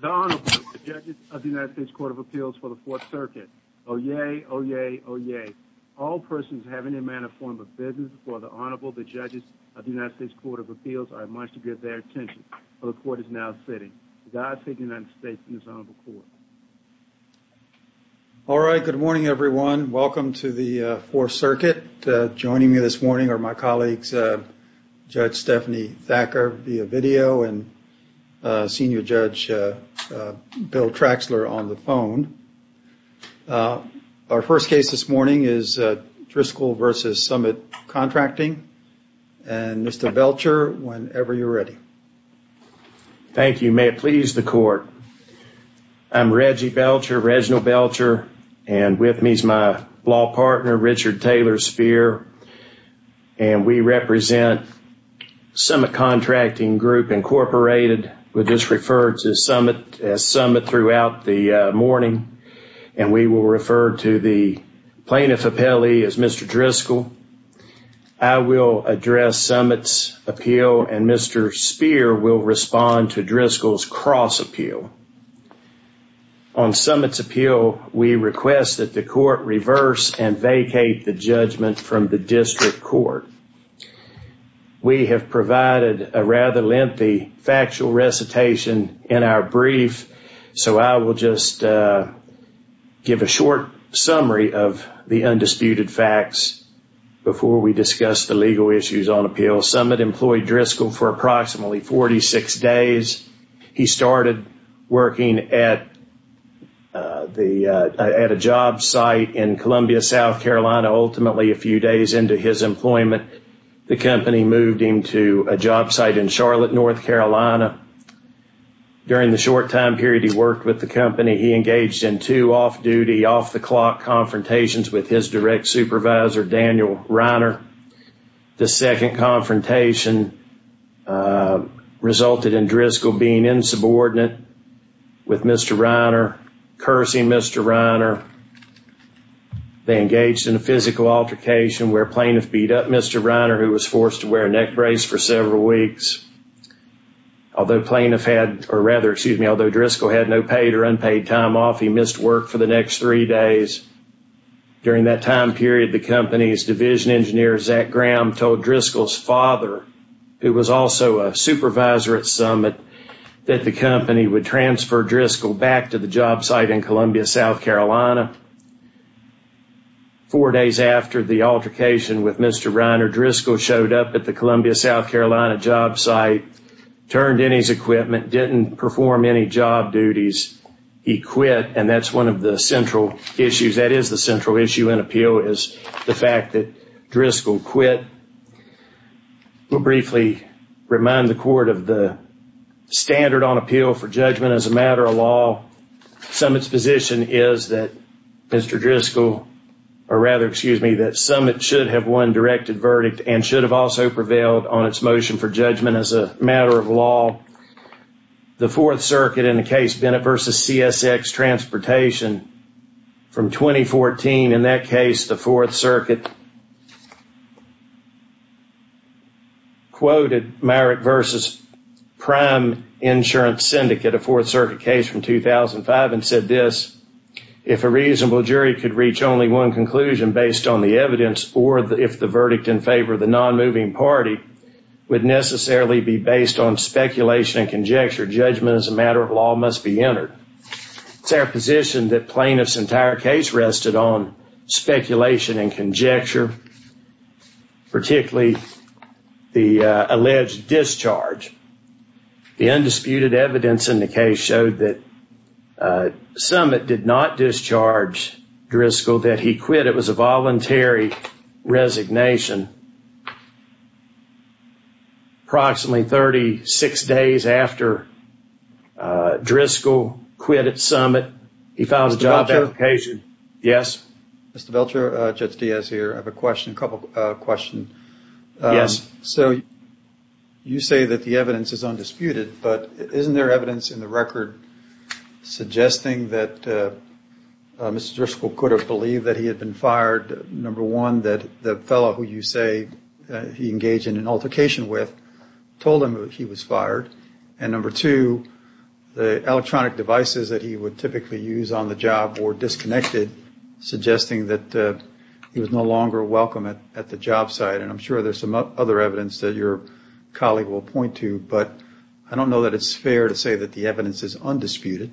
The Honorable, the Judges of the United States Court of Appeals for the Fourth Circuit. Oyez! Oyez! Oyez! All persons having in mind a form of business before the Honorable, the Judges of the United States Court of Appeals, are admonished to give their attention for the Court is now sitting. God save the United States and His Honorable Court. All right. Good morning, everyone. Welcome to the Fourth Circuit. Joining me this morning are my colleagues, Judge Stephanie Thacker via video and Senior Judge Bill Traxler on the phone. Our first case this morning is Driskell v. Summit Contracting. And Mr. Belcher, whenever you're ready. Thank you. May it please the Court. I'm Reggie Belcher, Reginald Belcher. And with me is my law partner, Richard Taylor Speer. And we represent Summit Contracting Group, Incorporated. We're just referred to as Summit throughout the morning. And we will refer to the plaintiff appellee as Mr. Driskell. I will address Summit's appeal and Mr. Speer will respond to Driskell's cross appeal. On Summit's appeal, we request that the Court reverse and vacate the judgment from the District Court. We have provided a rather lengthy factual recitation in our brief. So I will just give a short summary of the undisputed facts before we discuss the legal issues on appeal. Summit employed Driskell for approximately 46 days. He started working at a job site in Columbia, South Carolina, ultimately a few days into his employment. The company moved him to a job site in Charlotte, North Carolina. During the short time period he worked with the company, he engaged in two off-duty, off-the-clock confrontations with his direct supervisor, Daniel Reiner. The second confrontation resulted in Driskell being insubordinate with Mr. Reiner, cursing Mr. Reiner. They engaged in a physical altercation where plaintiff beat up Mr. Reiner, who was forced to wear a neck brace for several weeks. Although Driskell had no paid or unpaid time off, he missed work for the next three days. During that time period, the company's division engineer, Zach Graham, told Driskell's father, who was also a supervisor at Summit, that the company would transfer Driskell back to the job site in Columbia, South Carolina. Four days after the altercation with Mr. Reiner, Driskell showed up at the Columbia, South Carolina job site, turned in his equipment, didn't perform any job duties. He quit, and that's one of the central issues. That is the central issue in appeal, is the fact that Driskell quit. We'll briefly remind the court of the standard on appeal for judgment as a matter of law. Summit's position is that Mr. Driskell, or rather, excuse me, that Summit should have won directed verdict and should have also prevailed on its motion for judgment as a matter of law. The Fourth Circuit, in the case Bennett v. CSX Transportation from 2014, in that case, the Fourth Circuit quoted Merrick v. Prime Insurance Syndicate, a Fourth Circuit case from 2005, and said this, if a reasonable jury could reach only one conclusion based on the evidence, or if the verdict in favor of the non-moving party would necessarily be based on speculation and conjecture, judgment as a matter of law must be entered. It's our position that plaintiff's entire case rested on speculation and conjecture, particularly the alleged discharge. The undisputed evidence in the case showed that Summit did not discharge Driskell, that he quit. It was a voluntary resignation. Approximately 36 days after Driskell quit at Summit, he filed a job application. Mr. Belcher? Yes? Mr. Belcher? Judge Diaz here. I have a couple of questions. Yes. So, you say that the evidence is undisputed, but isn't there evidence in the record suggesting that Mr. Driskell could have believed that he had been fired, number one, that the fellow who you say he engaged in an altercation with told him that he was fired, and number two, the electronic devices that he would typically use on the job were disconnected, suggesting that he was no longer welcome at the job site. I'm sure there's some other evidence that your colleague will point to, but I don't know that it's fair to say that the evidence is undisputed.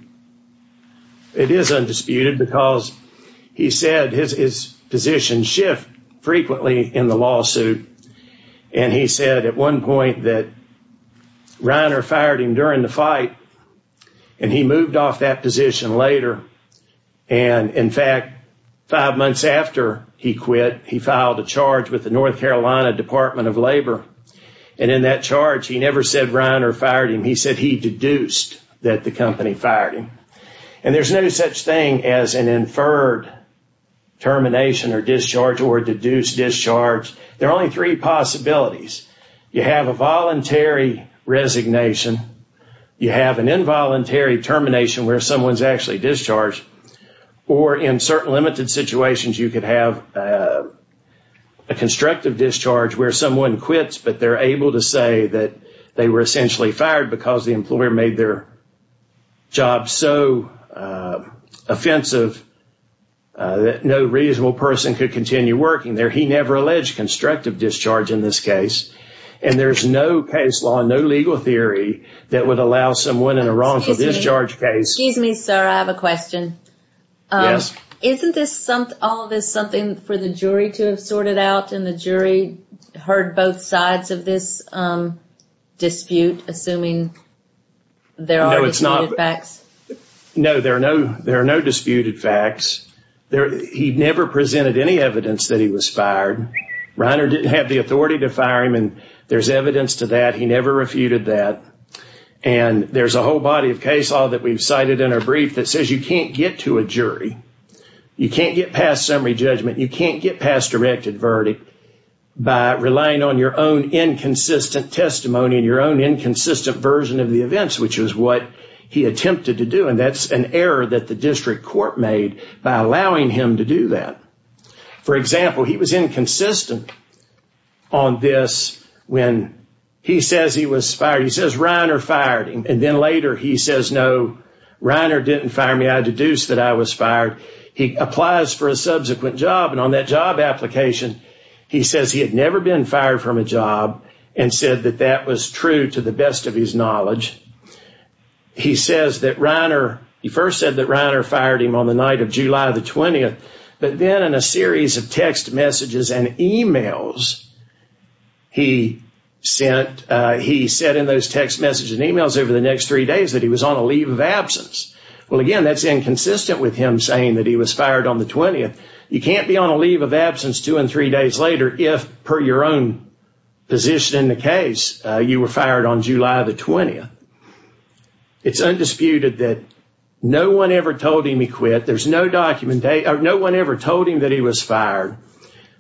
It is undisputed because he said his position shifted frequently in the lawsuit, and he said at one point that Reiner fired him during the fight, and he moved off that position later. And, in fact, five months after he quit, he filed a charge with the North Carolina Department of Labor, and in that charge, he never said Reiner fired him. He said he deduced that the company fired him. And there's no such thing as an inferred termination or discharge or a deduced discharge. There are only three possibilities. You have a voluntary resignation. You have an involuntary termination where someone's actually discharged, or in certain limited situations, you could have a constructive discharge where someone quits, but they're able to say that they were essentially fired because the employer made their job so offensive that no reasonable person could continue working there. He never alleged constructive discharge in this case. And there's no case law, no legal theory that would allow someone in a wrongful discharge case. Excuse me, sir. I have a question. Yes. Isn't all of this something for the jury to have sorted out, and the jury heard both sides of this dispute, assuming there are disputed facts? No, there are no disputed facts. He never presented any evidence that he was fired. Reiner didn't have the authority to fire him. And there's evidence to that. He never refuted that. And there's a whole body of case law that we've cited in our brief that says you can't get to a jury. You can't get past summary judgment. You can't get past directed verdict by relying on your own inconsistent testimony and your own inconsistent version of the events, which is what he attempted to do. And that's an error that the district court made by allowing him to do that. For example, he was inconsistent on this when he says he was fired. He says Reiner fired him. And then later he says, no, Reiner didn't fire me. I deduce that I was fired. He applies for a subsequent job. And on that job application, he says he had never been fired from a job and said that that was true to the best of his knowledge. He says that Reiner, he first said that Reiner fired him on the night of July the 20th. But then in a series of text messages and emails, he said in those text messages and emails over the next three days that he was on a leave of absence. Well, again, that's inconsistent with him saying that he was fired on the 20th. You can't be on a leave of absence two and three days later if, per your own position in the case, you were fired on July the 20th. It's undisputed that no one ever told him he quit. There's no documentation, no one ever told him that he was fired.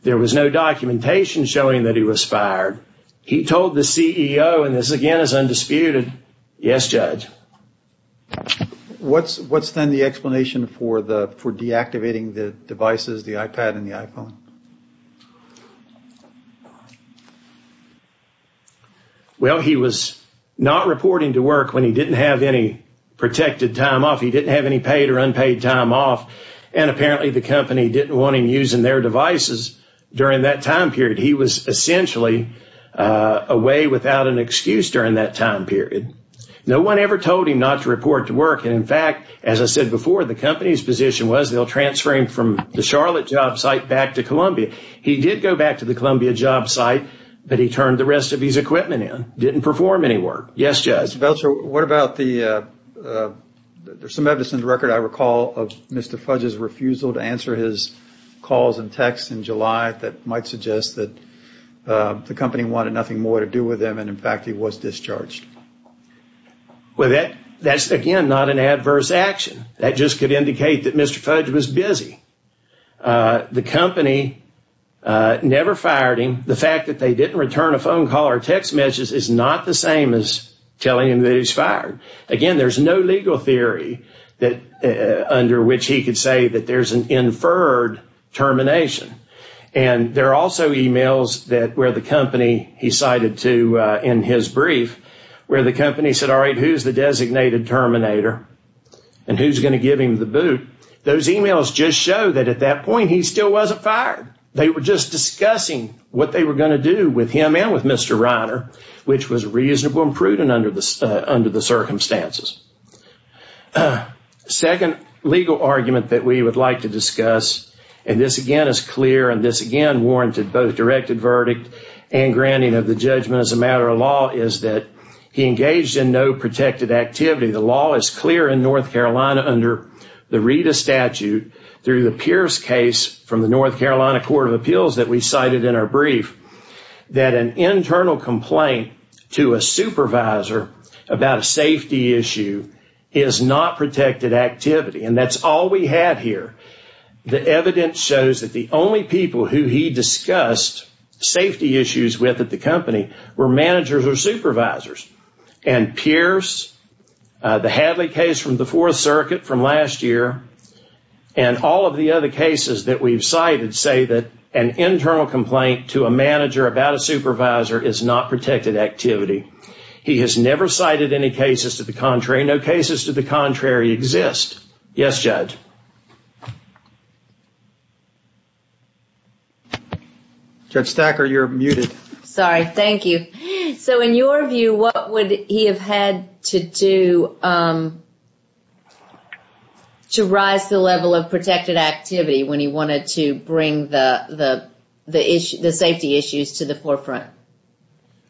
There was no documentation showing that he was fired. He told the CEO, and this again is undisputed. Yes, judge. What's what's then the explanation for the for deactivating the devices, the iPad and the iPhone? Well, he was not reporting to work when he didn't have any protected time off. He didn't have any paid or unpaid time off. And apparently the company didn't want him using their devices during that time period. He was essentially away without an excuse during that time period. No one ever told him not to report to work. And in fact, as I said before, the company's position was they'll transfer him from the Charlotte job site back to Columbia. He did go back to the Columbia job site, but he turned the rest of his equipment in, didn't perform any work. Yes, judge. What about the there's some evidence in the record I recall of Mr. Fudge's refusal to answer his calls and texts in July that might suggest that the company wanted nothing more to do with them. And in fact, he was discharged. Well, that that's, again, not an adverse action that just could indicate that Mr. Fudge was busy. The company never fired him. The fact that they didn't return a phone call or text messages is not the same as telling him that he's fired. Again, there's no legal theory that under which he could say that there's an inferred termination. And there are also emails that where the company he cited to in his brief, where the company said, all right, who's the designated terminator and who's going to give him the boot? Those emails just show that at that point he still wasn't fired. They were just discussing what they were going to do with him and with Mr. Reiner, which was reasonable and prudent under the under the circumstances. Second legal argument that we would like to discuss, and this again is clear and this again warranted both directed verdict and granting of the judgment as a matter of law, is that he engaged in no protected activity. The law is clear in North Carolina under the Rita statute through the Pierce case from the North Carolina court of appeals that we cited in our brief, that an internal complaint to a supervisor about a safety issue is not protected activity. And that's all we have here. The evidence shows that the only people who he discussed safety issues with at the company were managers or supervisors. And Pierce, the Hadley case from the fourth circuit from last year, and all of the other cases that we've cited say that an internal complaint to a manager about a supervisor is not protected activity. He has never cited any cases to the contrary. No cases to the contrary exist. Yes, judge. Judge Stacker, you're muted. Sorry. Thank you. So in your view, what would he have had to do to rise the level of protected activity when he wanted to bring the safety issues to the forefront?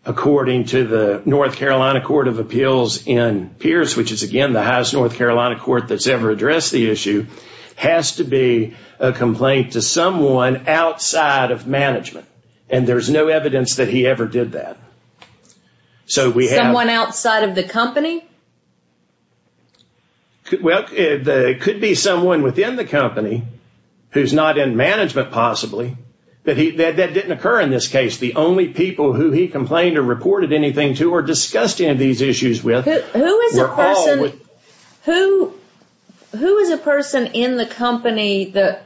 According to the North Carolina court of appeals in Pierce, which is again, the highest North Carolina court that's ever addressed the issue, has to be a complaint to someone outside of management. And there's no evidence that he ever did that. Someone outside of the company? Well, it could be someone within the company who's not in management, possibly. That didn't occur in this case. The only people who he complained or reported anything to or discussed any of these issues with were all... Who is a person in the company that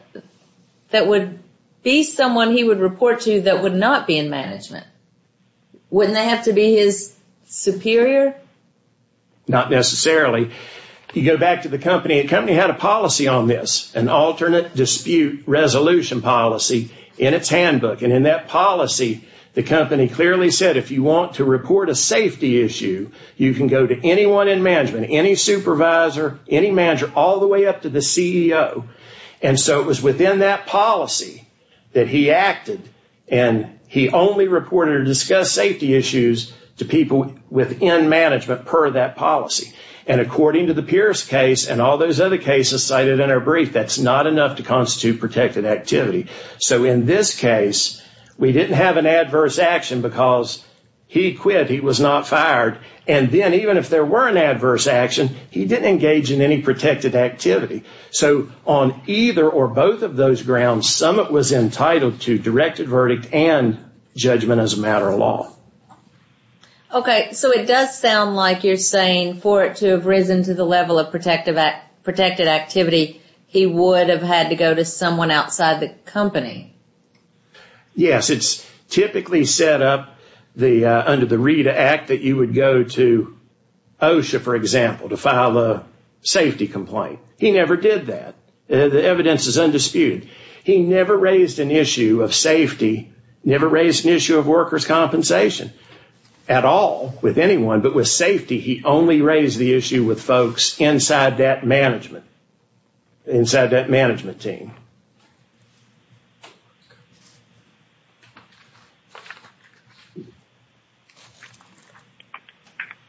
would be someone he would report to that would not be in management? Wouldn't they have to be his superior? Not necessarily. You go back to the company. The company had a policy on this, an alternate dispute resolution policy in its handbook. And in that policy, the company clearly said, if you want to report a safety issue, you can go to anyone in management, any supervisor, any manager, all the way up to the CEO. And so it was within that policy that he acted and he only reported or discussed safety issues to people within management per that policy. And according to the Pierce case and all those other cases cited in our brief, that's not enough to constitute protected activity. So in this case, we didn't have an adverse action because he quit. He was not fired. And then even if there were an adverse action, he didn't engage in any protected activity. So on either or both of those grounds, Summit was entitled to directed verdict and judgment as a matter of law. OK, so it does sound like you're saying for it to have risen to the level of protected activity, he would have had to go to someone outside the company. Yes, it's typically set up under the Rita Act that you would go to OSHA, for example, to file a safety complaint. He never did that. The evidence is undisputed. He never raised an issue of safety, never raised an issue of workers' compensation at all with anyone. But with safety, he only raised the issue with folks inside that management, inside that management team.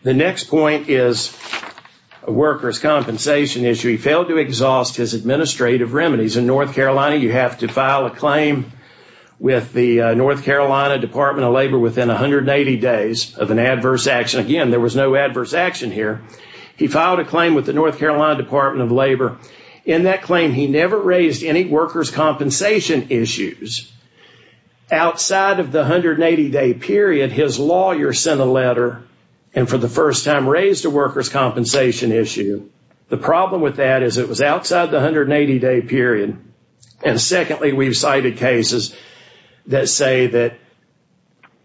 The next point is a workers' compensation issue. He failed to exhaust his administrative remedies. In North Carolina, you have to file a claim with the North Carolina Department of Labor within 180 days of an adverse action. Again, there was no adverse action here. He filed a claim with the North Carolina Department of Labor. In that claim, he never raised any workers' compensation issues. Outside of the 180-day period, his lawyer sent a letter and for the first time raised a workers' compensation issue. The problem with that is it was outside the 180-day period. And secondly, we've cited cases that say that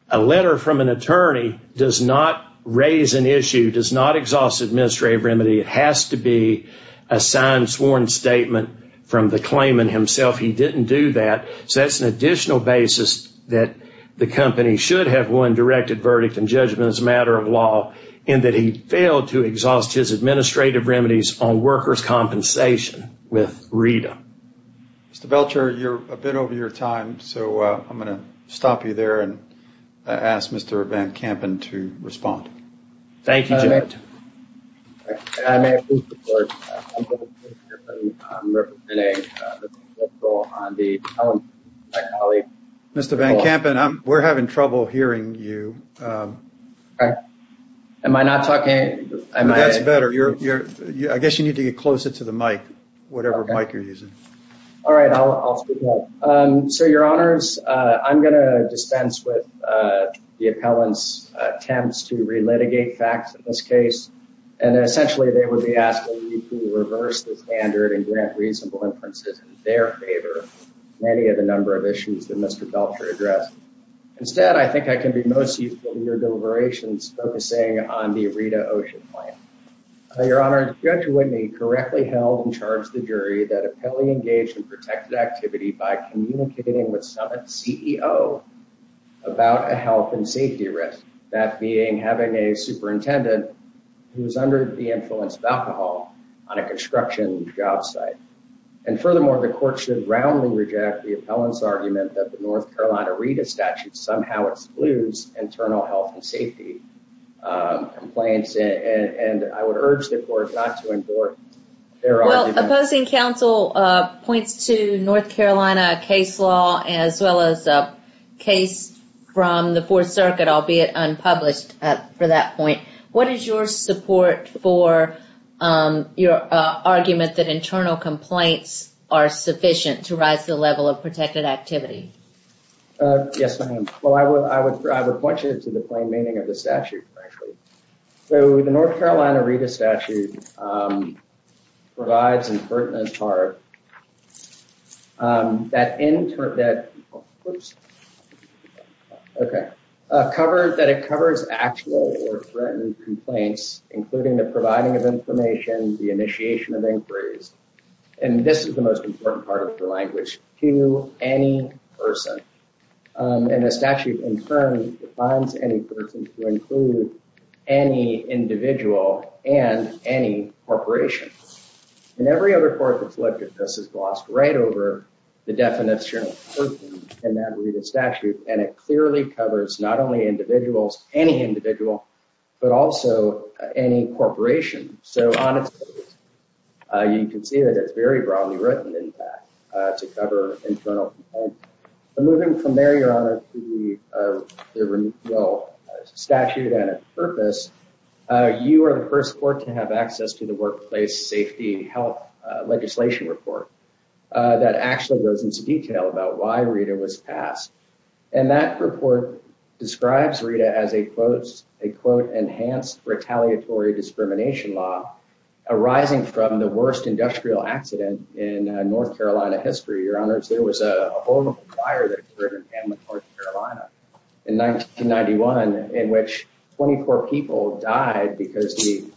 a letter from an attorney does not raise an issue, does not exhaust administrative remedy. It has to be a signed, sworn statement from the claimant himself. He didn't do that. So that's an additional basis that the company should have won directed verdict and judgment as a matter of law in that he failed to exhaust his administrative remedies on workers' compensation with RETA. Mr. Belcher, you're a bit over your time. So I'm going to stop you there and ask Mr. Van Kampen to respond. Thank you, Joe. Mr. Van Kampen, we're having trouble hearing you. Am I not talking? That's better. I guess you need to get closer to the mic, whatever mic you're using. All right. I'll speak up. So your honors, I'm going to dispense with the appellant's attempts to relitigate facts in this case. And essentially they would be asking you to reverse the standard and grant reasonable inferences in their favor, many of the number of issues that Mr. Belcher addressed. Instead, I think I can be most useful in your deliberations focusing on the RETA OSHA claim. Your honor, Judge Whitney correctly held and charged the jury that appellee engaged in protected activity by communicating with Summit's CEO about a health and safety risk, that being having a superintendent who was under the influence of alcohol on a construction job site. And furthermore, the court should roundly reject the appellant's argument that the North Carolina RETA statute somehow excludes internal health and safety complaints. And I would urge the court not to endorse their argument. Well, opposing counsel points to North Carolina case law as well as a case from the Fourth Circuit, albeit unpublished for that point. What is your support for your argument that internal complaints are sufficient to rise to the level of protected activity? Yes, ma'am. Well, I would point you to the plain meaning of the statute, frankly. So the North Carolina RETA statute provides, in part, that it covers actual or threatened complaints, including the providing of information, the initiation of inquiries. And this is the most important part of the language, to any person. And the statute, in turn, defines any person to include any individual and any corporation. And every other court that's looked at this has glossed right over the definition of person in that RETA statute. And it clearly covers not only individuals, any individual, but also any corporation. So on its page, you can see that it's very broadly written, in fact, to the extent that it's not in the statute. And moving from there, Your Honor, to the statute and its purpose, you are the first court to have access to the Workplace Safety Health Legislation Report that actually goes into detail about why RETA was passed. And that report describes RETA as a, quote, enhanced retaliatory discrimination law arising from the worst industrial accident in North Carolina in 1991, in which 24 people died because the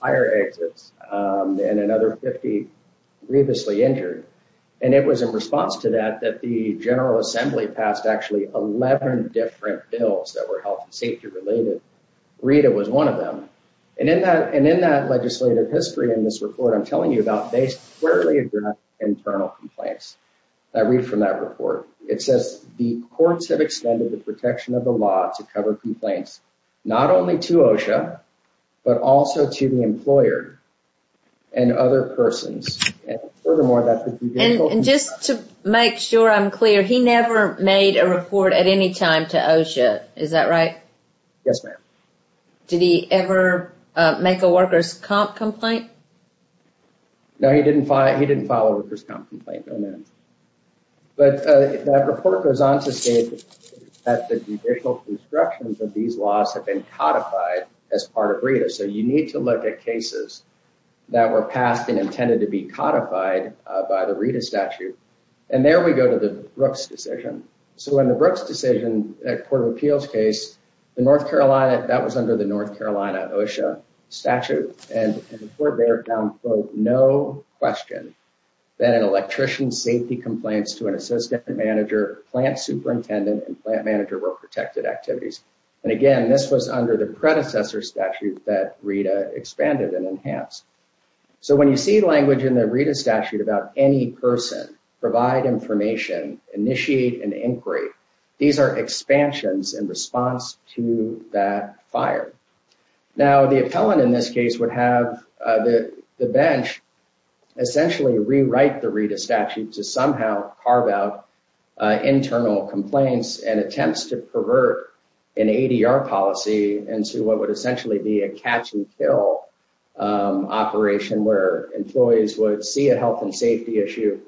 fire exits and another 50 grievously injured. And it was in response to that, that the General Assembly passed actually 11 different bills that were health and safety related. RETA was one of them. And in that legislative history in this report, I'm telling you about, they squarely address internal complaints. I read from that report. It says the courts have extended the protection of the law to cover complaints, not only to OSHA, but also to the employer and other persons. Furthermore, that's the judicial... And just to make sure I'm clear, he never made a report at any time to OSHA. Is that right? Yes, ma'am. Did he ever make a workers' comp complaint? No, he didn't file a workers' comp complaint, no, ma'am. But that report goes on to state that the judicial constructions of these laws have been codified as part of RETA. So you need to look at cases that were passed and intended to be codified by the RETA statute. And there we go to the Brooks decision. So in the Brooks decision, that court of appeals case, the North Carolina, that was under the North Carolina OSHA statute. And the court there found, quote, no question that an electrician's safety complaints to an assistant manager, plant superintendent, and plant manager were protected activities. And again, this was under the predecessor statute that RETA expanded and enhanced. So when you see language in the RETA statute about any person, provide information, initiate an inquiry, these are expansions in response to that fire. Now, the appellant in this case would have the bench essentially rewrite the RETA statute to somehow carve out internal complaints and attempts to pervert an ADR policy into what would essentially be a catch and kill operation where employees would see a health and safety issue,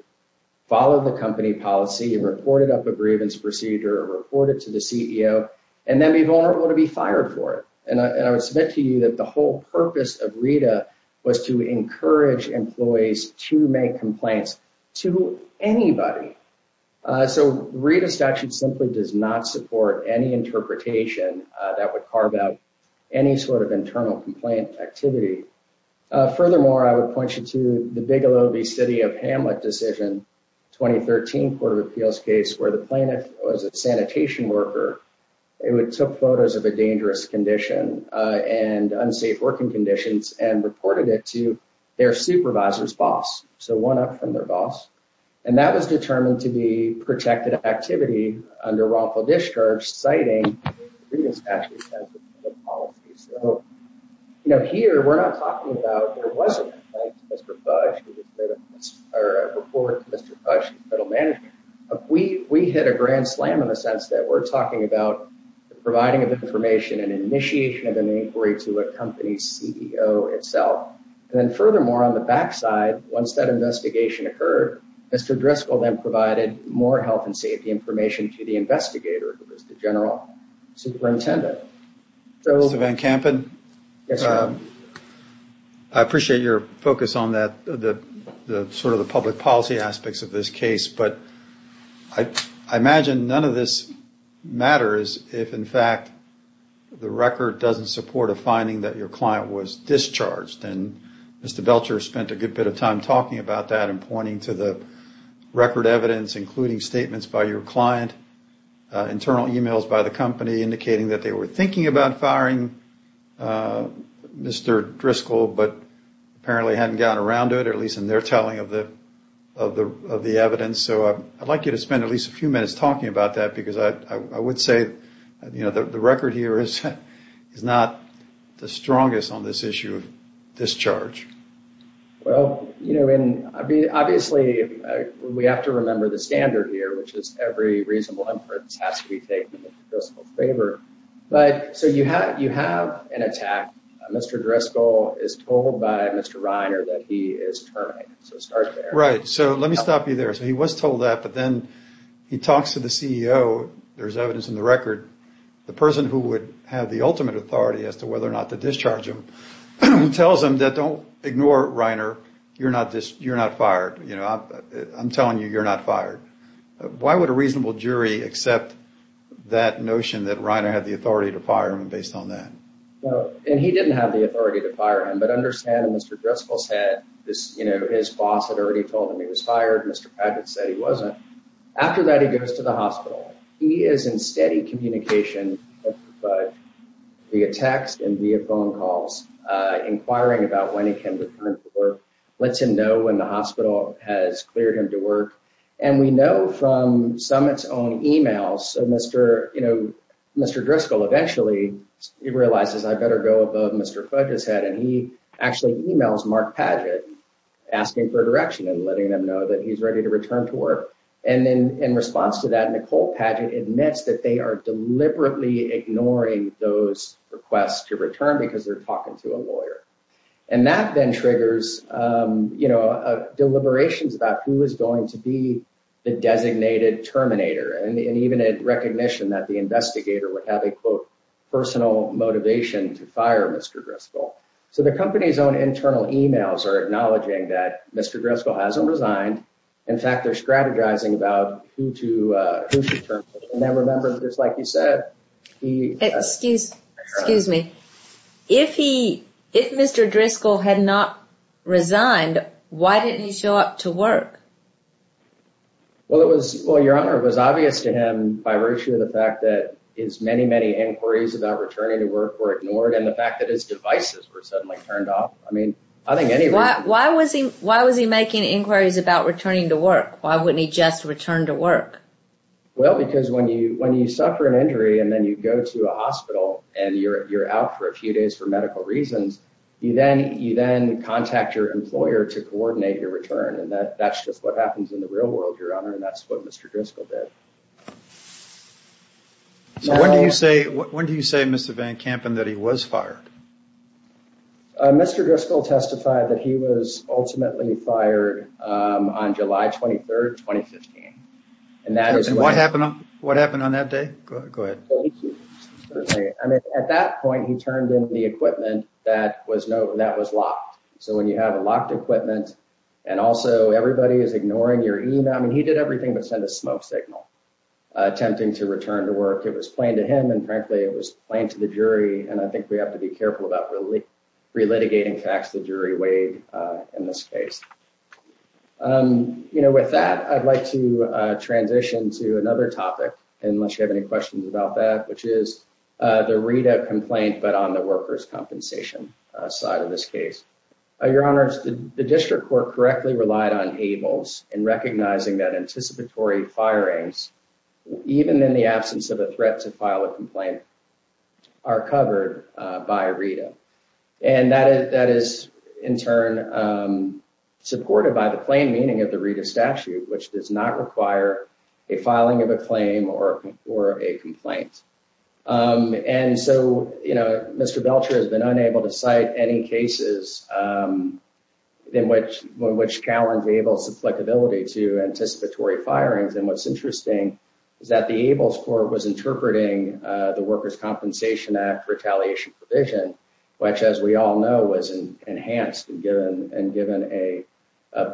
follow the company policy and report it up a grievance procedure, report it to the CEO, and then be vulnerable to be fired for it. And I would submit to you that the whole purpose of RETA was to encourage employees to make complaints to anybody. So RETA statute simply does not support any interpretation that would carve out any sort of internal complaint activity. Furthermore, I would point you to the Bigelow v. City of Hamlet decision, 2013 court of appeals case, where the plaintiff was a and unsafe working conditions and reported it to their supervisor's boss. So one up from their boss. And that was determined to be protected activity under wrongful discharge, citing RETA statute as a policy. So, you know, here we're not talking about there wasn't a complaint to Mr. Fudge, or a report to Mr. Fudge, the federal manager. We hit a grand slam in the sense that we're talking about providing information and initiation of an inquiry to a company's CEO itself. And then furthermore, on the back side, once that investigation occurred, Mr. Driscoll then provided more health and safety information to the investigator, who was the general superintendent. Mr. Van Kampen, I appreciate your focus on that, the sort of the public policy aspects of this case. But I imagine none of this matters if, in the record, doesn't support a finding that your client was discharged. And Mr. Belcher spent a good bit of time talking about that and pointing to the record evidence, including statements by your client, internal emails by the company indicating that they were thinking about firing Mr. Driscoll, but apparently hadn't gotten around to it, at least in their telling of the evidence. So I'd like you to spend at least a few minutes talking about that, because I imagine it's not the strongest on this issue of discharge. Well, you know, and obviously we have to remember the standard here, which is every reasonable inference has to be taken in the principal's favor. But so you have you have an attack. Mr. Driscoll is told by Mr. Reiner that he is terminated. So start there. Right. So let me stop you there. So he was told that. But then he talks to the CEO. There's evidence in the record. The person who would have the ultimate authority as to whether or not to discharge him tells him that don't ignore Reiner. You're not just you're not fired. You know, I'm telling you, you're not fired. Why would a reasonable jury accept that notion that Reiner had the authority to fire him based on that? And he didn't have the authority to fire him. But understand, Mr. Driscoll said this, you know, his boss had already told him he was fired. Mr. Padgett said he wasn't. After that, he goes to the hospital. He is in steady communication, but via text and via phone calls, inquiring about when he can return to work, lets him know when the hospital has cleared him to work. And we know from Summit's own e-mails, Mr. You know, Mr. Driscoll eventually realizes I better go above Mr. Fudge's head. And he actually e-mails Mark Padgett asking for direction and letting them know that he's ready to return to work. And then in response to that, Nicole Padgett admits that they are deliberately ignoring those requests to return because they're talking to a lawyer. And that then triggers, you know, deliberations about who is going to be the designated terminator. And even a recognition that the investigator would have a, quote, personal motivation to fire Mr. Driscoll. So the company's own internal e-mails are acknowledging that Mr. Driscoll hasn't resigned. In fact, they're strategizing about who to, who should turn to, and then remember, just like you said, he. Excuse, excuse me. If he, if Mr. Driscoll had not resigned, why didn't he show up to work? Well, it was, well, Your Honor, it was obvious to him by virtue of the fact that his many, many inquiries about returning to work were ignored and the fact that his devices were suddenly turned off. I mean, I think any. Why was he, why was he making inquiries about returning to work? Why wouldn't he just return to work? Well, because when you, when you suffer an injury and then you go to a hospital and you're, you're out for a few days for medical reasons, you then, you then contact your employer to coordinate your return. And that, that's just what happens in the real world, Your Honor. And that's what Mr. Driscoll did. So when do you say, when do you say, Mr. Van Kampen, that he was fired? Mr. Driscoll testified that he was ultimately fired on July 23rd, 2015. And that is what happened on, what happened on that day. Go ahead. At that point, he turned in the equipment that was no, that was locked. So when you have a locked equipment and also everybody is ignoring your email. I mean, he did everything but send a smoke signal attempting to return to work. It was plain to him. And frankly, it was plain to the jury. And I think we have to be careful about really relitigating facts the jury weighed in this case. You know, with that, I'd like to transition to another topic, unless you have any questions about that, which is the Rita complaint, but on the workers' compensation side of this case. Your Honor, the district court correctly relied on ables in recognizing that the ables were covered by Rita and that is, in turn, supported by the plain meaning of the Rita statute, which does not require a filing of a claim or or a complaint. And so, you know, Mr. Belcher has been unable to cite any cases in which, in which cowards ables have flexibility to anticipatory firings. And what's interesting is that the ables court was interpreting the workers' compensation act retaliation provision, which, as we all know, was enhanced and given and given a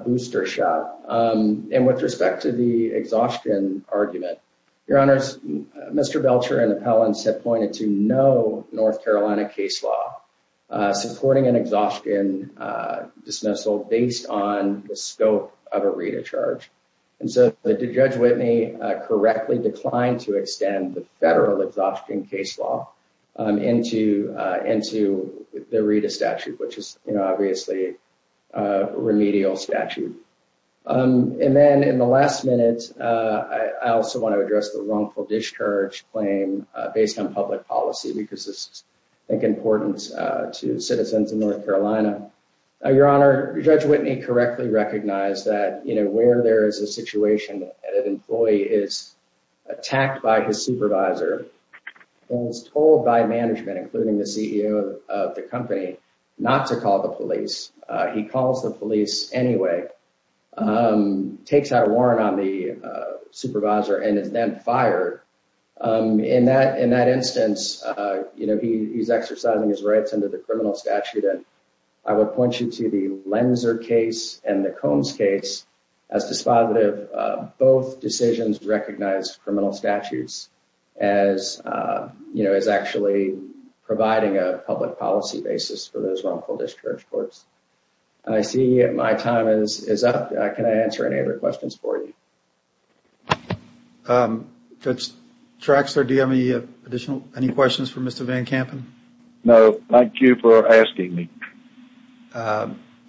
booster shot. And with respect to the exhaustion argument, Your Honor, Mr. Belcher and appellants have pointed to no North Carolina case law supporting an exhaustion dismissal based on the scope of a Rita charge. And so did Judge Whitney correctly decline to extend the federal exhaustion case law into into the Rita statute, which is obviously a remedial statute? And then in the last minute, I also want to address the wrongful discharge claim based on public policy, because this is, I think, important to citizens in North Carolina. Your Honor, Judge Whitney correctly recognized that, you know, where there is a situation that an employee is attacked by his supervisor and is told by management, including the CEO of the company, not to call the police. He calls the police anyway, takes out a warrant on the supervisor and is then fired. In that in that instance, you know, he's exercising his rights under the criminal statute. And I would point you to the Lenzer case and the Combs case as dispositive. Both decisions recognize criminal statutes as, you know, as actually providing a public policy basis for those wrongful discharge courts. And I see my time is up. Can I answer any other questions for you? Judge Traxler, do you have any additional any questions for Mr. Van Kampen? No, thank you for asking me.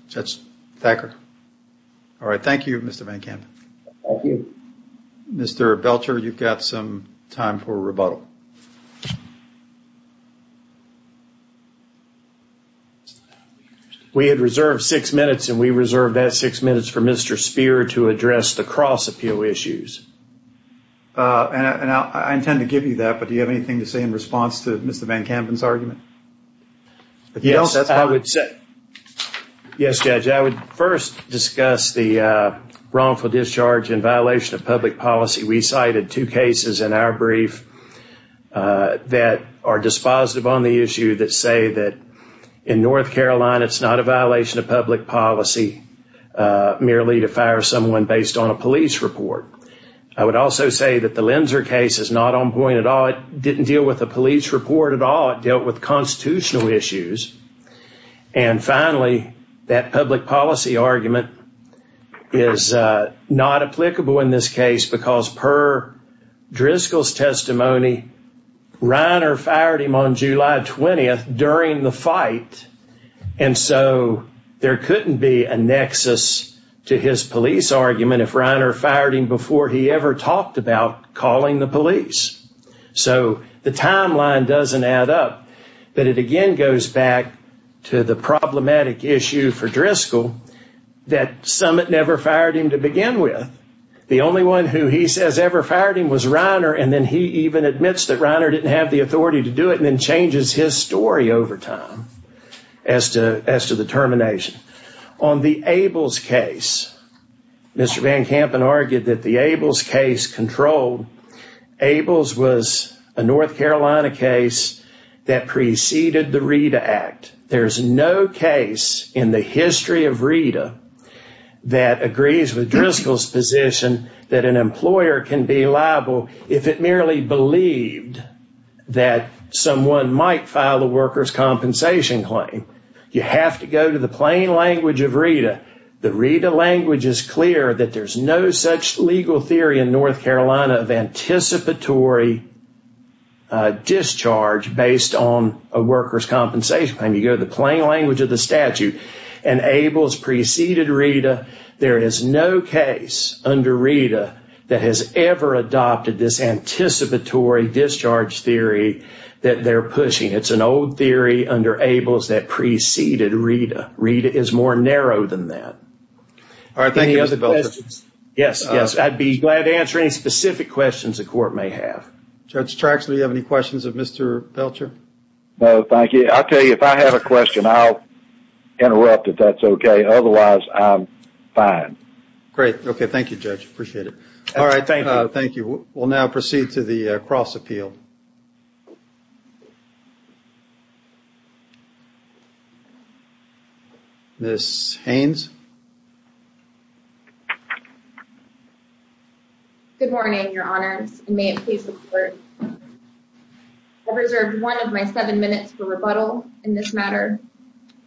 Judge Thacker. All right. Thank you, Mr. Van Kampen. Mr. Belcher, you've got some time for rebuttal. We had reserved six minutes and we reserved that six minutes for Mr. Spear to address the cross appeal issues. And I intend to give you that, but do you have anything to say in response to Mr. Van Kampen's argument? Yes, I would say. Yes, Judge, I would first discuss the wrongful discharge in violation of public policy. We cited two cases in our brief that are dispositive on the issue that say that in North Carolina, it's not a violation of public policy merely to fire someone based on a police report. I would also say that the Lenzer case is not on point at all. It didn't deal with a police report at all. It dealt with constitutional issues. And finally, that public policy argument is not applicable in this case because per Driscoll's testimony, Reiner fired him on July 20th during the fight. And so there couldn't be a nexus to his police argument if Reiner fired him before he ever talked about calling the police. So the timeline doesn't add up, but it again goes back to the problematic issue for Driscoll that Summit never fired him to begin with. The only one who he says ever fired him was Reiner. And then he even admits that Reiner didn't have the authority to do it and then changes his story over time as to the termination. On the Ables case, Mr. Driscoll's was a North Carolina case that preceded the RETA Act. There's no case in the history of RETA that agrees with Driscoll's position that an employer can be liable if it merely believed that someone might file the worker's compensation claim. You have to go to the plain language of RETA. The RETA language is clear that there's no such legal theory in North Carolina of anticipatory discharge based on a worker's compensation claim. You go to the plain language of the statute, and Ables preceded RETA. There is no case under RETA that has ever adopted this anticipatory discharge theory that they're pushing. It's an old theory under Ables that preceded RETA. RETA is more narrow than that. All right. Thank you, Mr. Belcher. Yes. Yes. I'd be glad to answer any specific questions the court may have. Judge Traxler, do you have any questions of Mr. Belcher? No, thank you. I'll tell you, if I have a question, I'll interrupt if that's okay. Otherwise, I'm fine. Great. Okay. Thank you, Judge. Appreciate it. All right. Thank you. Thank you. We'll now proceed to the cross appeal. Ms. Haynes. Good morning, Your Honors, and may it please the court. I've reserved one of my seven minutes for rebuttal in this matter.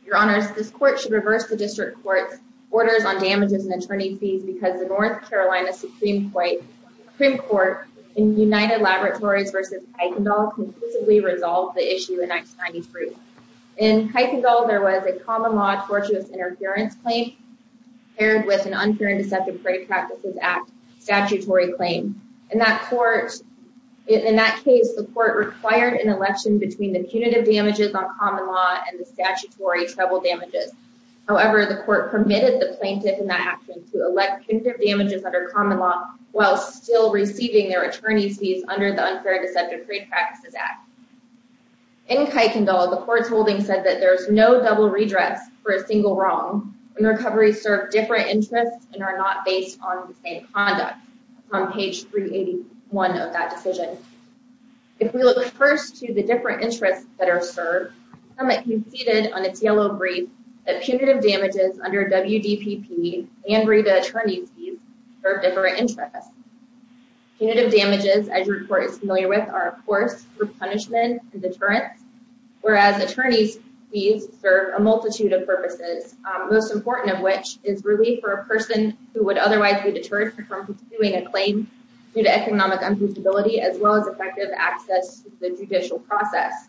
Your Honors, this court should reverse the district court's orders on damages and attorney fees because the North Carolina Supreme Court in United Laboratories versus Heitendahl conclusively resolved the issue in 1993. In Heitendahl, there was a common law tortuous interference claim paired with an Unfair and Deceptive Trade Practices Act statutory claim. In that court, in that case, the court required an election between the punitive damages on common law and the statutory trouble damages. However, the court permitted the plaintiff in that action to elect punitive damages under common law while still receiving their attorney's fees under the Unfair and Deceptive Trade Practices Act. In Heitendahl, the court's holding said that there's no double redress for a different interest and are not based on the same conduct on page 381 of that decision. If we look first to the different interests that are served, the summit conceded on its yellow brief that punitive damages under WDPP and WREDA attorney's fees serve different interests. Punitive damages, as your court is familiar with, are of course group punishment and deterrence, whereas attorney's fees serve a multitude of purposes, including a person who would otherwise be deterred from pursuing a claim due to economic unpredictability, as well as effective access to the judicial process.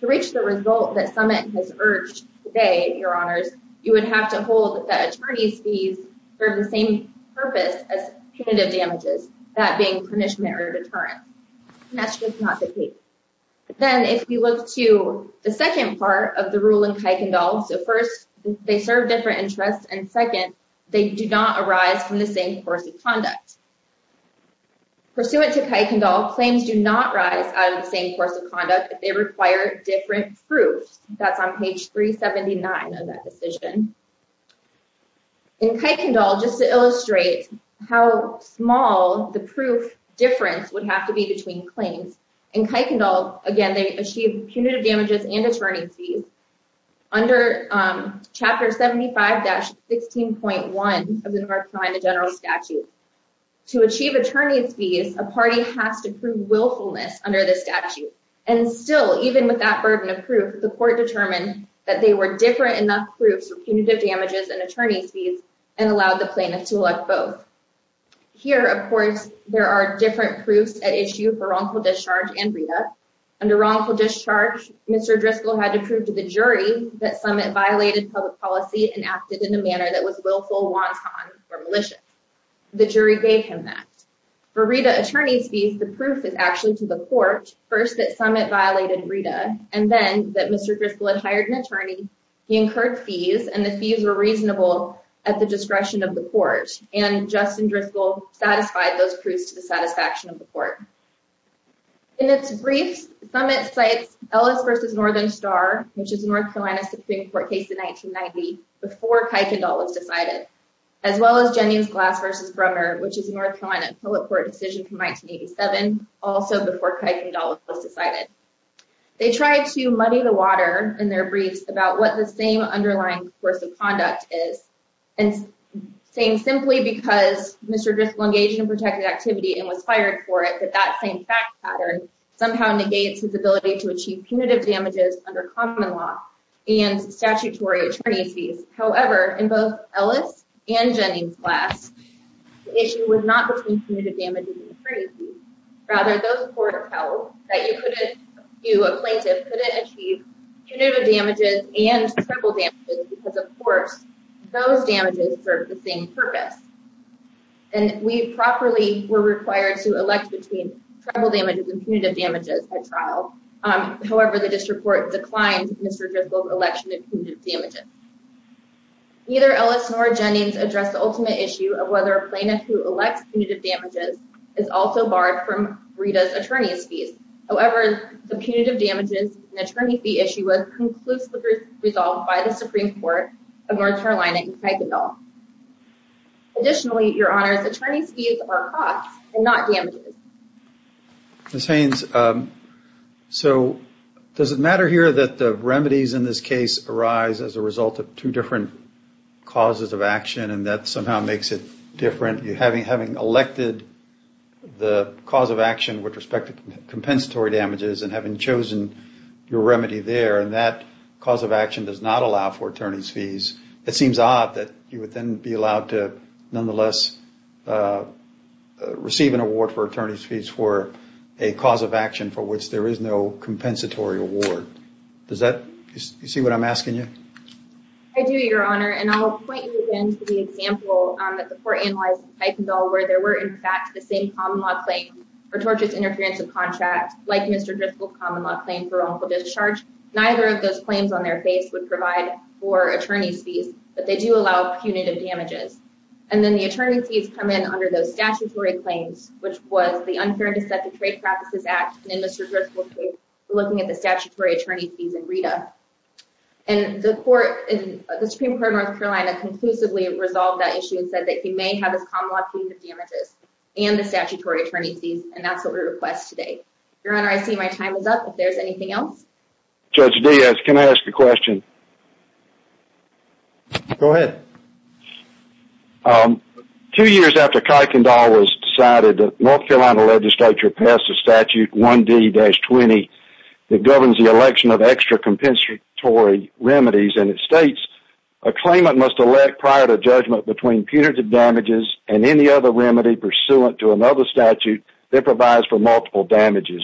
To reach the result that summit has urged today, your honors, you would have to hold that attorney's fees serve the same purpose as punitive damages, that being punishment or deterrent. That's just not the case. Then if you look to the second part of the rule in Heitendahl, so first they serve different interests, and second, they do not arise from the same course of conduct. Pursuant to Heitendahl, claims do not rise out of the same course of conduct if they require different proofs. That's on page 379 of that decision. In Heitendahl, just to illustrate how small the proof difference would have to be between claims, in Heitendahl, again, they achieve punitive damages and attorney's fees. Under Chapter 75-16.1 of the North Carolina General Statute, to achieve attorney's fees, a party has to prove willfulness under the statute. And still, even with that burden of proof, the court determined that they were different enough proofs for punitive damages and attorney's fees and allowed the plaintiff to elect both. Here, of course, there are different proofs at issue for wrongful discharge and read-up. Under wrongful discharge, Mr. Driscoll had to prove to the jury that Summit violated public policy and acted in a manner that was willful, wanton, or malicious. The jury gave him that. For read-up attorney's fees, the proof is actually to the court, first that Summit violated read-up, and then that Mr. Driscoll had hired an attorney, he incurred fees, and the fees were reasonable at the discretion of the court. In its briefs, Summit cites Ellis v. Northern Star, which is a North Carolina Supreme Court case in 1990, before Kuykendall was decided, as well as Jennings-Glass v. Brummer, which is a North Carolina appellate court decision from 1987, also before Kuykendall was decided. They tried to muddy the water in their briefs about what the same underlying course of conduct is, and saying simply because Mr. Driscoll engaged in that same fact pattern somehow negates his ability to achieve punitive damages under common law and statutory attorney's fees. However, in both Ellis and Jennings-Glass, the issue was not between punitive damages and attorney's fees, rather those court appellates that you couldn't, you, a plaintiff, couldn't achieve punitive damages and civil damages because, of course, those damages serve the same purpose. And we properly were required to elect between tribal damages and punitive damages at trial. However, the district court declined Mr. Driscoll's election of punitive damages. Neither Ellis nor Jennings addressed the ultimate issue of whether a plaintiff who elects punitive damages is also barred from Rita's attorney's fees. However, the punitive damages and attorney fee issue was conclusively resolved by the Supreme Court of North Carolina in Kuykendall. Additionally, Your Honor, the attorney's fees are costs and not damages. Ms. Haynes, so does it matter here that the remedies in this case arise as a result of two different causes of action and that somehow makes it different? You having, having elected the cause of action with respect to compensatory damages and having chosen your remedy there and that cause of action does not allow for attorney's fees. It seems odd that you would then be allowed to nonetheless receive an award for attorney's fees for a cause of action for which there is no compensatory award. Does that, you see what I'm asking you? I do, Your Honor. And I'll point you again to the example that the court analyzed in Kuykendall where there were in fact the same common law claim for tortious interference of contract like Mr. Driscoll's common law claim for wrongful discharge. Neither of those claims on their case would provide for attorney's fees, but they do allow punitive damages. And then the attorney's fees come in under those statutory claims, which was the unfairness of the Trade Practices Act, and in Mr. Driscoll's case, we're looking at the statutory attorney's fees in RETA. And the Supreme Court of North Carolina conclusively resolved that issue and said that he may have his common law punitive damages and the statutory attorney's fees, and that's what we request today. Your Honor, I see my time is up. If there's anything else? Judge Diaz, can I ask a question? Go ahead. Two years after Kuykendall was decided, North Carolina legislature passed a statute 1D-20 that governs the election of extra compensatory remedies, and it states, a claimant must elect prior to judgment between punitive damages and any other remedy pursuant to another statute that provides for multiple damages.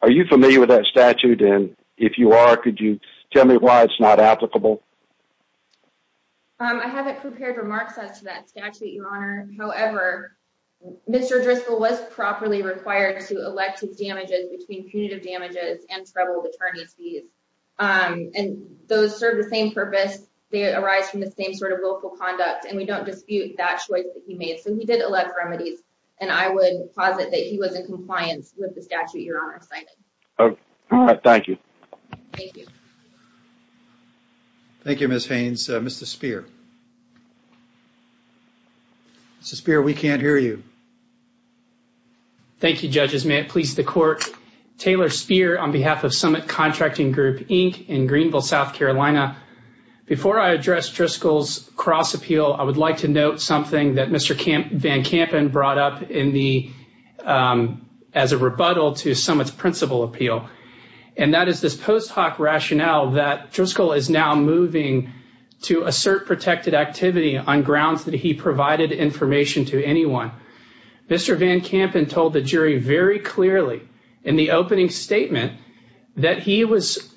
Are you familiar with that statute, and if you are, could you tell me why it's not applicable? I haven't prepared remarks as to that statute, Your Honor. However, Mr. Driscoll was properly required to elect his damages between punitive damages and troubled attorney's fees, and those serve the same purpose. They arise from the same sort of willful conduct, and we don't dispute that choice that he made. So he did elect remedies, and I would posit that he was in compliance with the statute Your Honor cited. All right. Thank you. Thank you. Thank you, Ms. Haynes. Mr. Speer. Mr. Speer, we can't hear you. Thank you, judges. May it please the court. Taylor Speer on behalf of Summit Contracting Group, Inc. in Greenville, South Carolina. Before I address Driscoll's cross appeal, I would like to note something that Mr. Van Kampen brought up as a rebuttal to Summit's principal appeal. And that is this post hoc rationale that Driscoll is now moving to assert protected activity on grounds that he provided information to anyone. Mr. Van Kampen told the jury very clearly in the opening statement that he was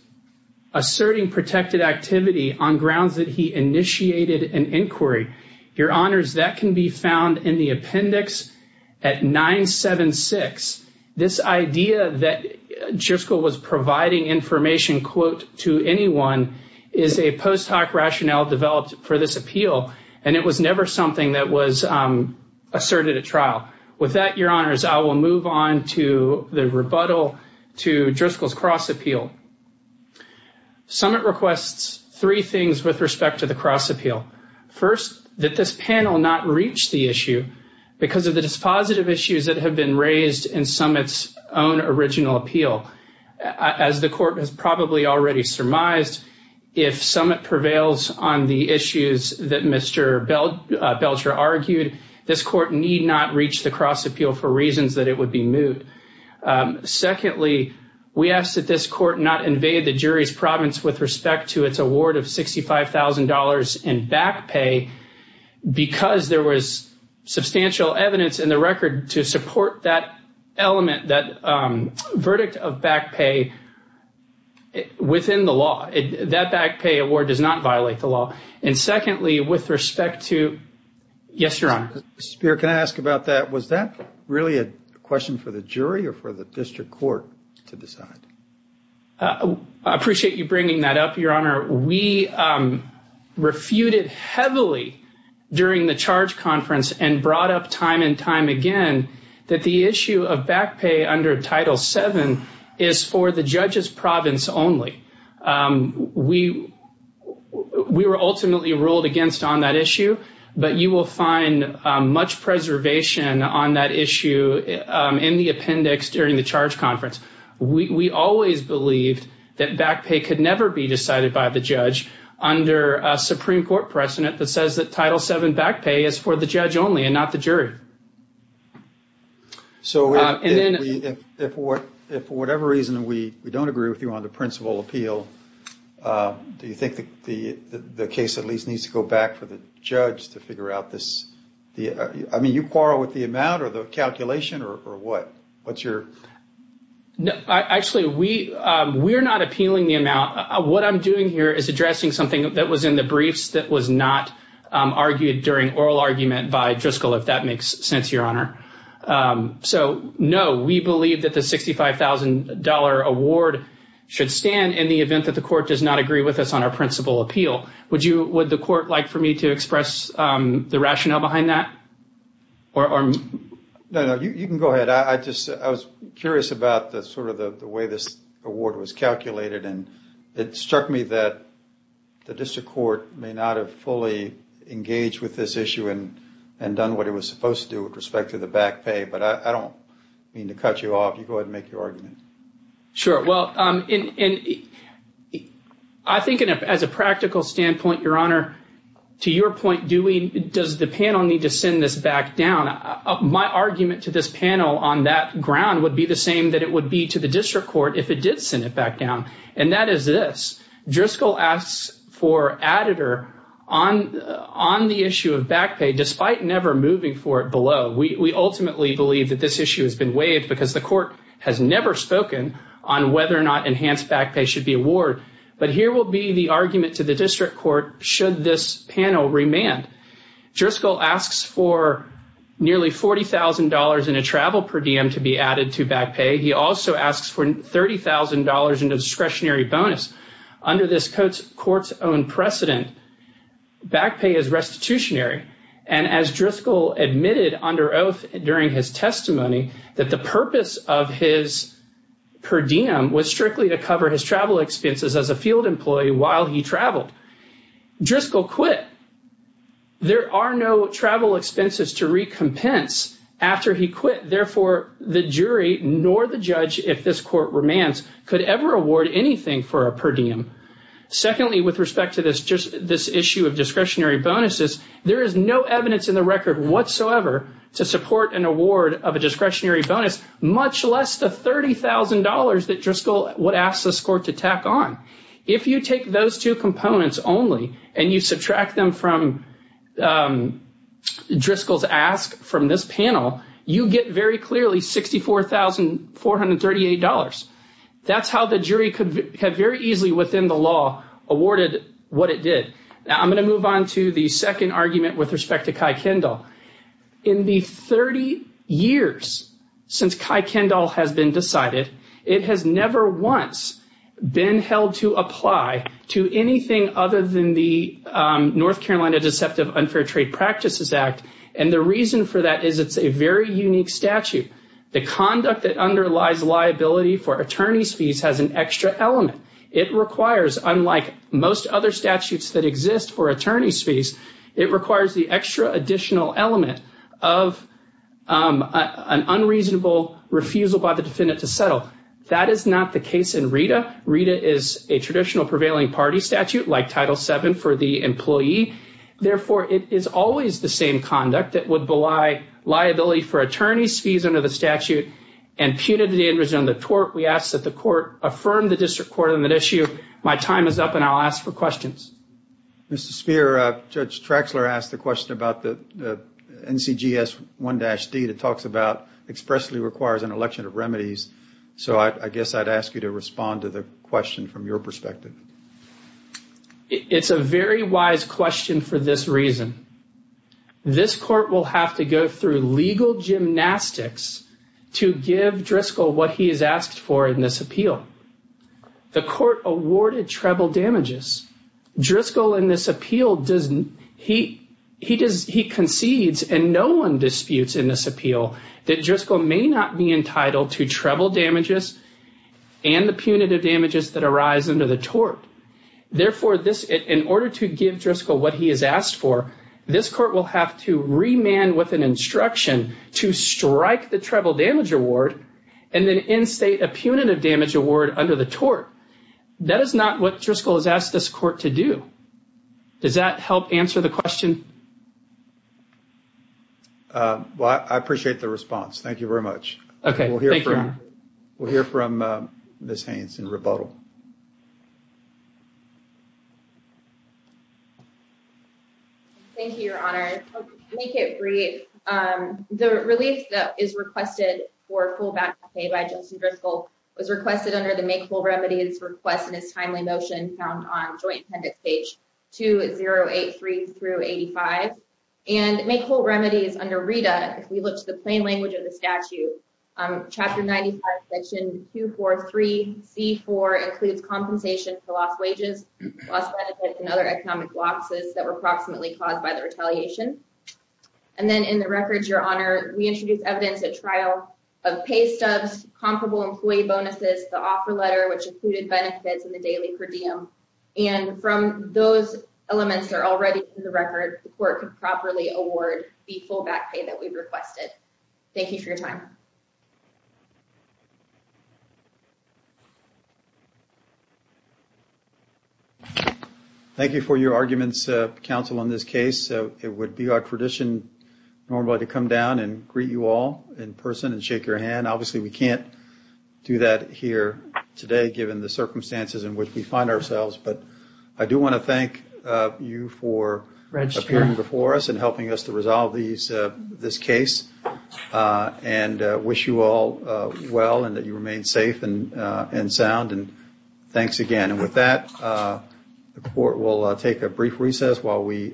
asserting protected activity on grounds that he initiated an inquiry. Your Honors, that can be found in the appendix at 976. This idea that Driscoll was providing information, quote, to anyone is a post hoc rationale developed for this appeal. And it was never something that was asserted at trial. With that, Your Honors, I will move on to the rebuttal to Driscoll's cross appeal. Summit requests three things with respect to the cross appeal. First, that this panel not reach the issue because of the dispositive issues that have been raised in Summit's own original appeal. As the court has probably already surmised, if Summit prevails on the issues that Mr. Belcher argued, this court need not reach the cross appeal for reasons that it would be moot. Secondly, we ask that this court not invade the jury's province with respect to its award of $65,000 in back pay because there was substantial evidence in the record to support that element, that verdict of back pay within the law. That back pay award does not violate the law. And secondly, with respect to, yes, Your Honor. Mr. Speier, can I ask about that? Was that really a question for the jury or for the district court to decide? I appreciate you bringing that up, Your Honor. We refuted heavily during the charge conference and brought up time and time again that the issue of back pay under Title VII is for the judge's province only. We were ultimately ruled against on that issue, but you will find much preservation on that issue in the appendix during the charge conference. We always believed that back pay could never be decided by the judge under a Supreme Court precedent that says that Title VII back pay is for the judge only and not the jury. So if for whatever reason we don't agree with you on the principal appeal, do you think the case at least needs to go back for the judge to figure out this? I mean, you quarrel with the amount or the calculation or what? What's your... Actually, we're not appealing the amount. What I'm doing here is addressing something that was in the briefs that was not argued during oral argument by Driscoll, if that makes sense, Your Honor. So, no, we believe that the $65,000 award should stand in the event that the court does not agree with us on our principal appeal. Would the court like for me to express the rationale behind that? No, no, you can go ahead. I was curious about sort of the way this award was calculated and it struck me that the district court may not have fully engaged with this issue and done what it was supposed to do with respect to the back pay. But I don't mean to cut you off. You go ahead and make your argument. Sure. Well, I think as a practical standpoint, Your Honor, to your point, does the panel need to send this back down? My argument to this panel on that ground would be the same that it would be to the district court if it did send it back down. And that is this. Driscoll asks for an editor on the issue of back pay, despite never moving for it below. We ultimately believe that this issue has been waived because the court has never spoken on whether or not enhanced back pay should be awarded. But here will be the argument to the district court, should this panel remand. Driscoll asks for nearly $40,000 in a travel per diem to be added to back pay. He also asks for $30,000 in discretionary bonus. Under this court's own precedent, back pay is restitutionary. And as Driscoll admitted under oath during his testimony that the purpose of his per diem was strictly to cover his travel expenses as a field employee while he traveled, Driscoll quit. There are no travel expenses to recompense after he quit. Therefore, the jury nor the judge, if this court remands, could ever award anything for a per diem. Secondly, with respect to this issue of discretionary bonuses, there is no evidence in the record whatsoever to support an award of a discretionary bonus, much less the $30,000 that Driscoll would ask this court to tack on. If you take those two components only and you subtract them from Driscoll's ask from this panel, you get very clearly $64,438. That's how the jury could have very easily within the law awarded what it did. Now, I'm going to move on to the second argument with respect to Kai Kendall. In the 30 years since Kai Kendall has been decided, it has never once been held to apply to anything other than the North Carolina Deceptive Unfair Trade Practices Act. And the reason for that is it's a very unique statute. The conduct that underlies liability for attorney's fees has an extra element. It requires, unlike most other statutes that exist for attorney's fees, it requires the extra additional element of an unreasonable refusal by the defendant to settle. That is not the case in RETA. RETA is a traditional prevailing party statute like Title VII for the employee. Therefore, it is always the same conduct that would belie liability for attorney's fees under the statute and punitive damages under the tort. We ask that the court affirm the district court on that issue. My time is up and I'll ask for questions. Mr. Speier, Judge Traxler asked a question about the NCGS 1-D that talks about expressly requires an election of remedies. So I guess I'd ask you to respond to the question from your perspective. It's a very wise question for this reason. This court will have to go through legal gymnastics to give Driscoll what he has asked for in this appeal. The court awarded treble damages. Driscoll in this appeal, he concedes and no one disputes in this appeal that Driscoll may not be entitled to treble damages and the punitive damages that arise under the tort. Therefore, in order to give Driscoll what he has asked for, this court will have to remand with an instruction to strike the treble damage award and then instate a punitive damage award under the tort. That is not what Driscoll has asked this court to do. Does that help answer the question? Well, I appreciate the response. Thank you very much. Okay, thank you. We'll hear from Ms. Haynes in rebuttal. Thank you, Your Honor. To make it brief, the relief that is requested for full back pay by Justin Driscoll was requested under the make-full remedies request in his timely motion found on joint appendix page 2083 through 85. And make-full remedies under RITA, if we look to the plain language of the statute, chapter 95, section 243c4 includes compensation for lost wages, lost benefits and other economic losses that were approximately caused by the retaliation. And then in the records, Your Honor, we introduced evidence at trial of pay stubs, comparable employee bonuses, the offer letter, which included benefits in the daily per diem. And from those elements that are already in the record, the court could properly award the full back pay that we've requested. Thank you for your time. Thank you for your arguments, counsel, on this case. It would be our tradition normally to come down and greet you all in person and shake your hand. Obviously, we can't do that here today, given the circumstances in which we find ourselves. But I do want to thank you for appearing before us and helping us to resolve this case. And wish you all well and that you remain safe and sound. And thanks again. And with that, the court will take a brief recess while we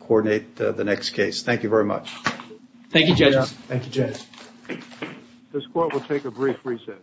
coordinate the next case. Thank you very much. Thank you, judges. Thank you, judges. This court will take a brief recess.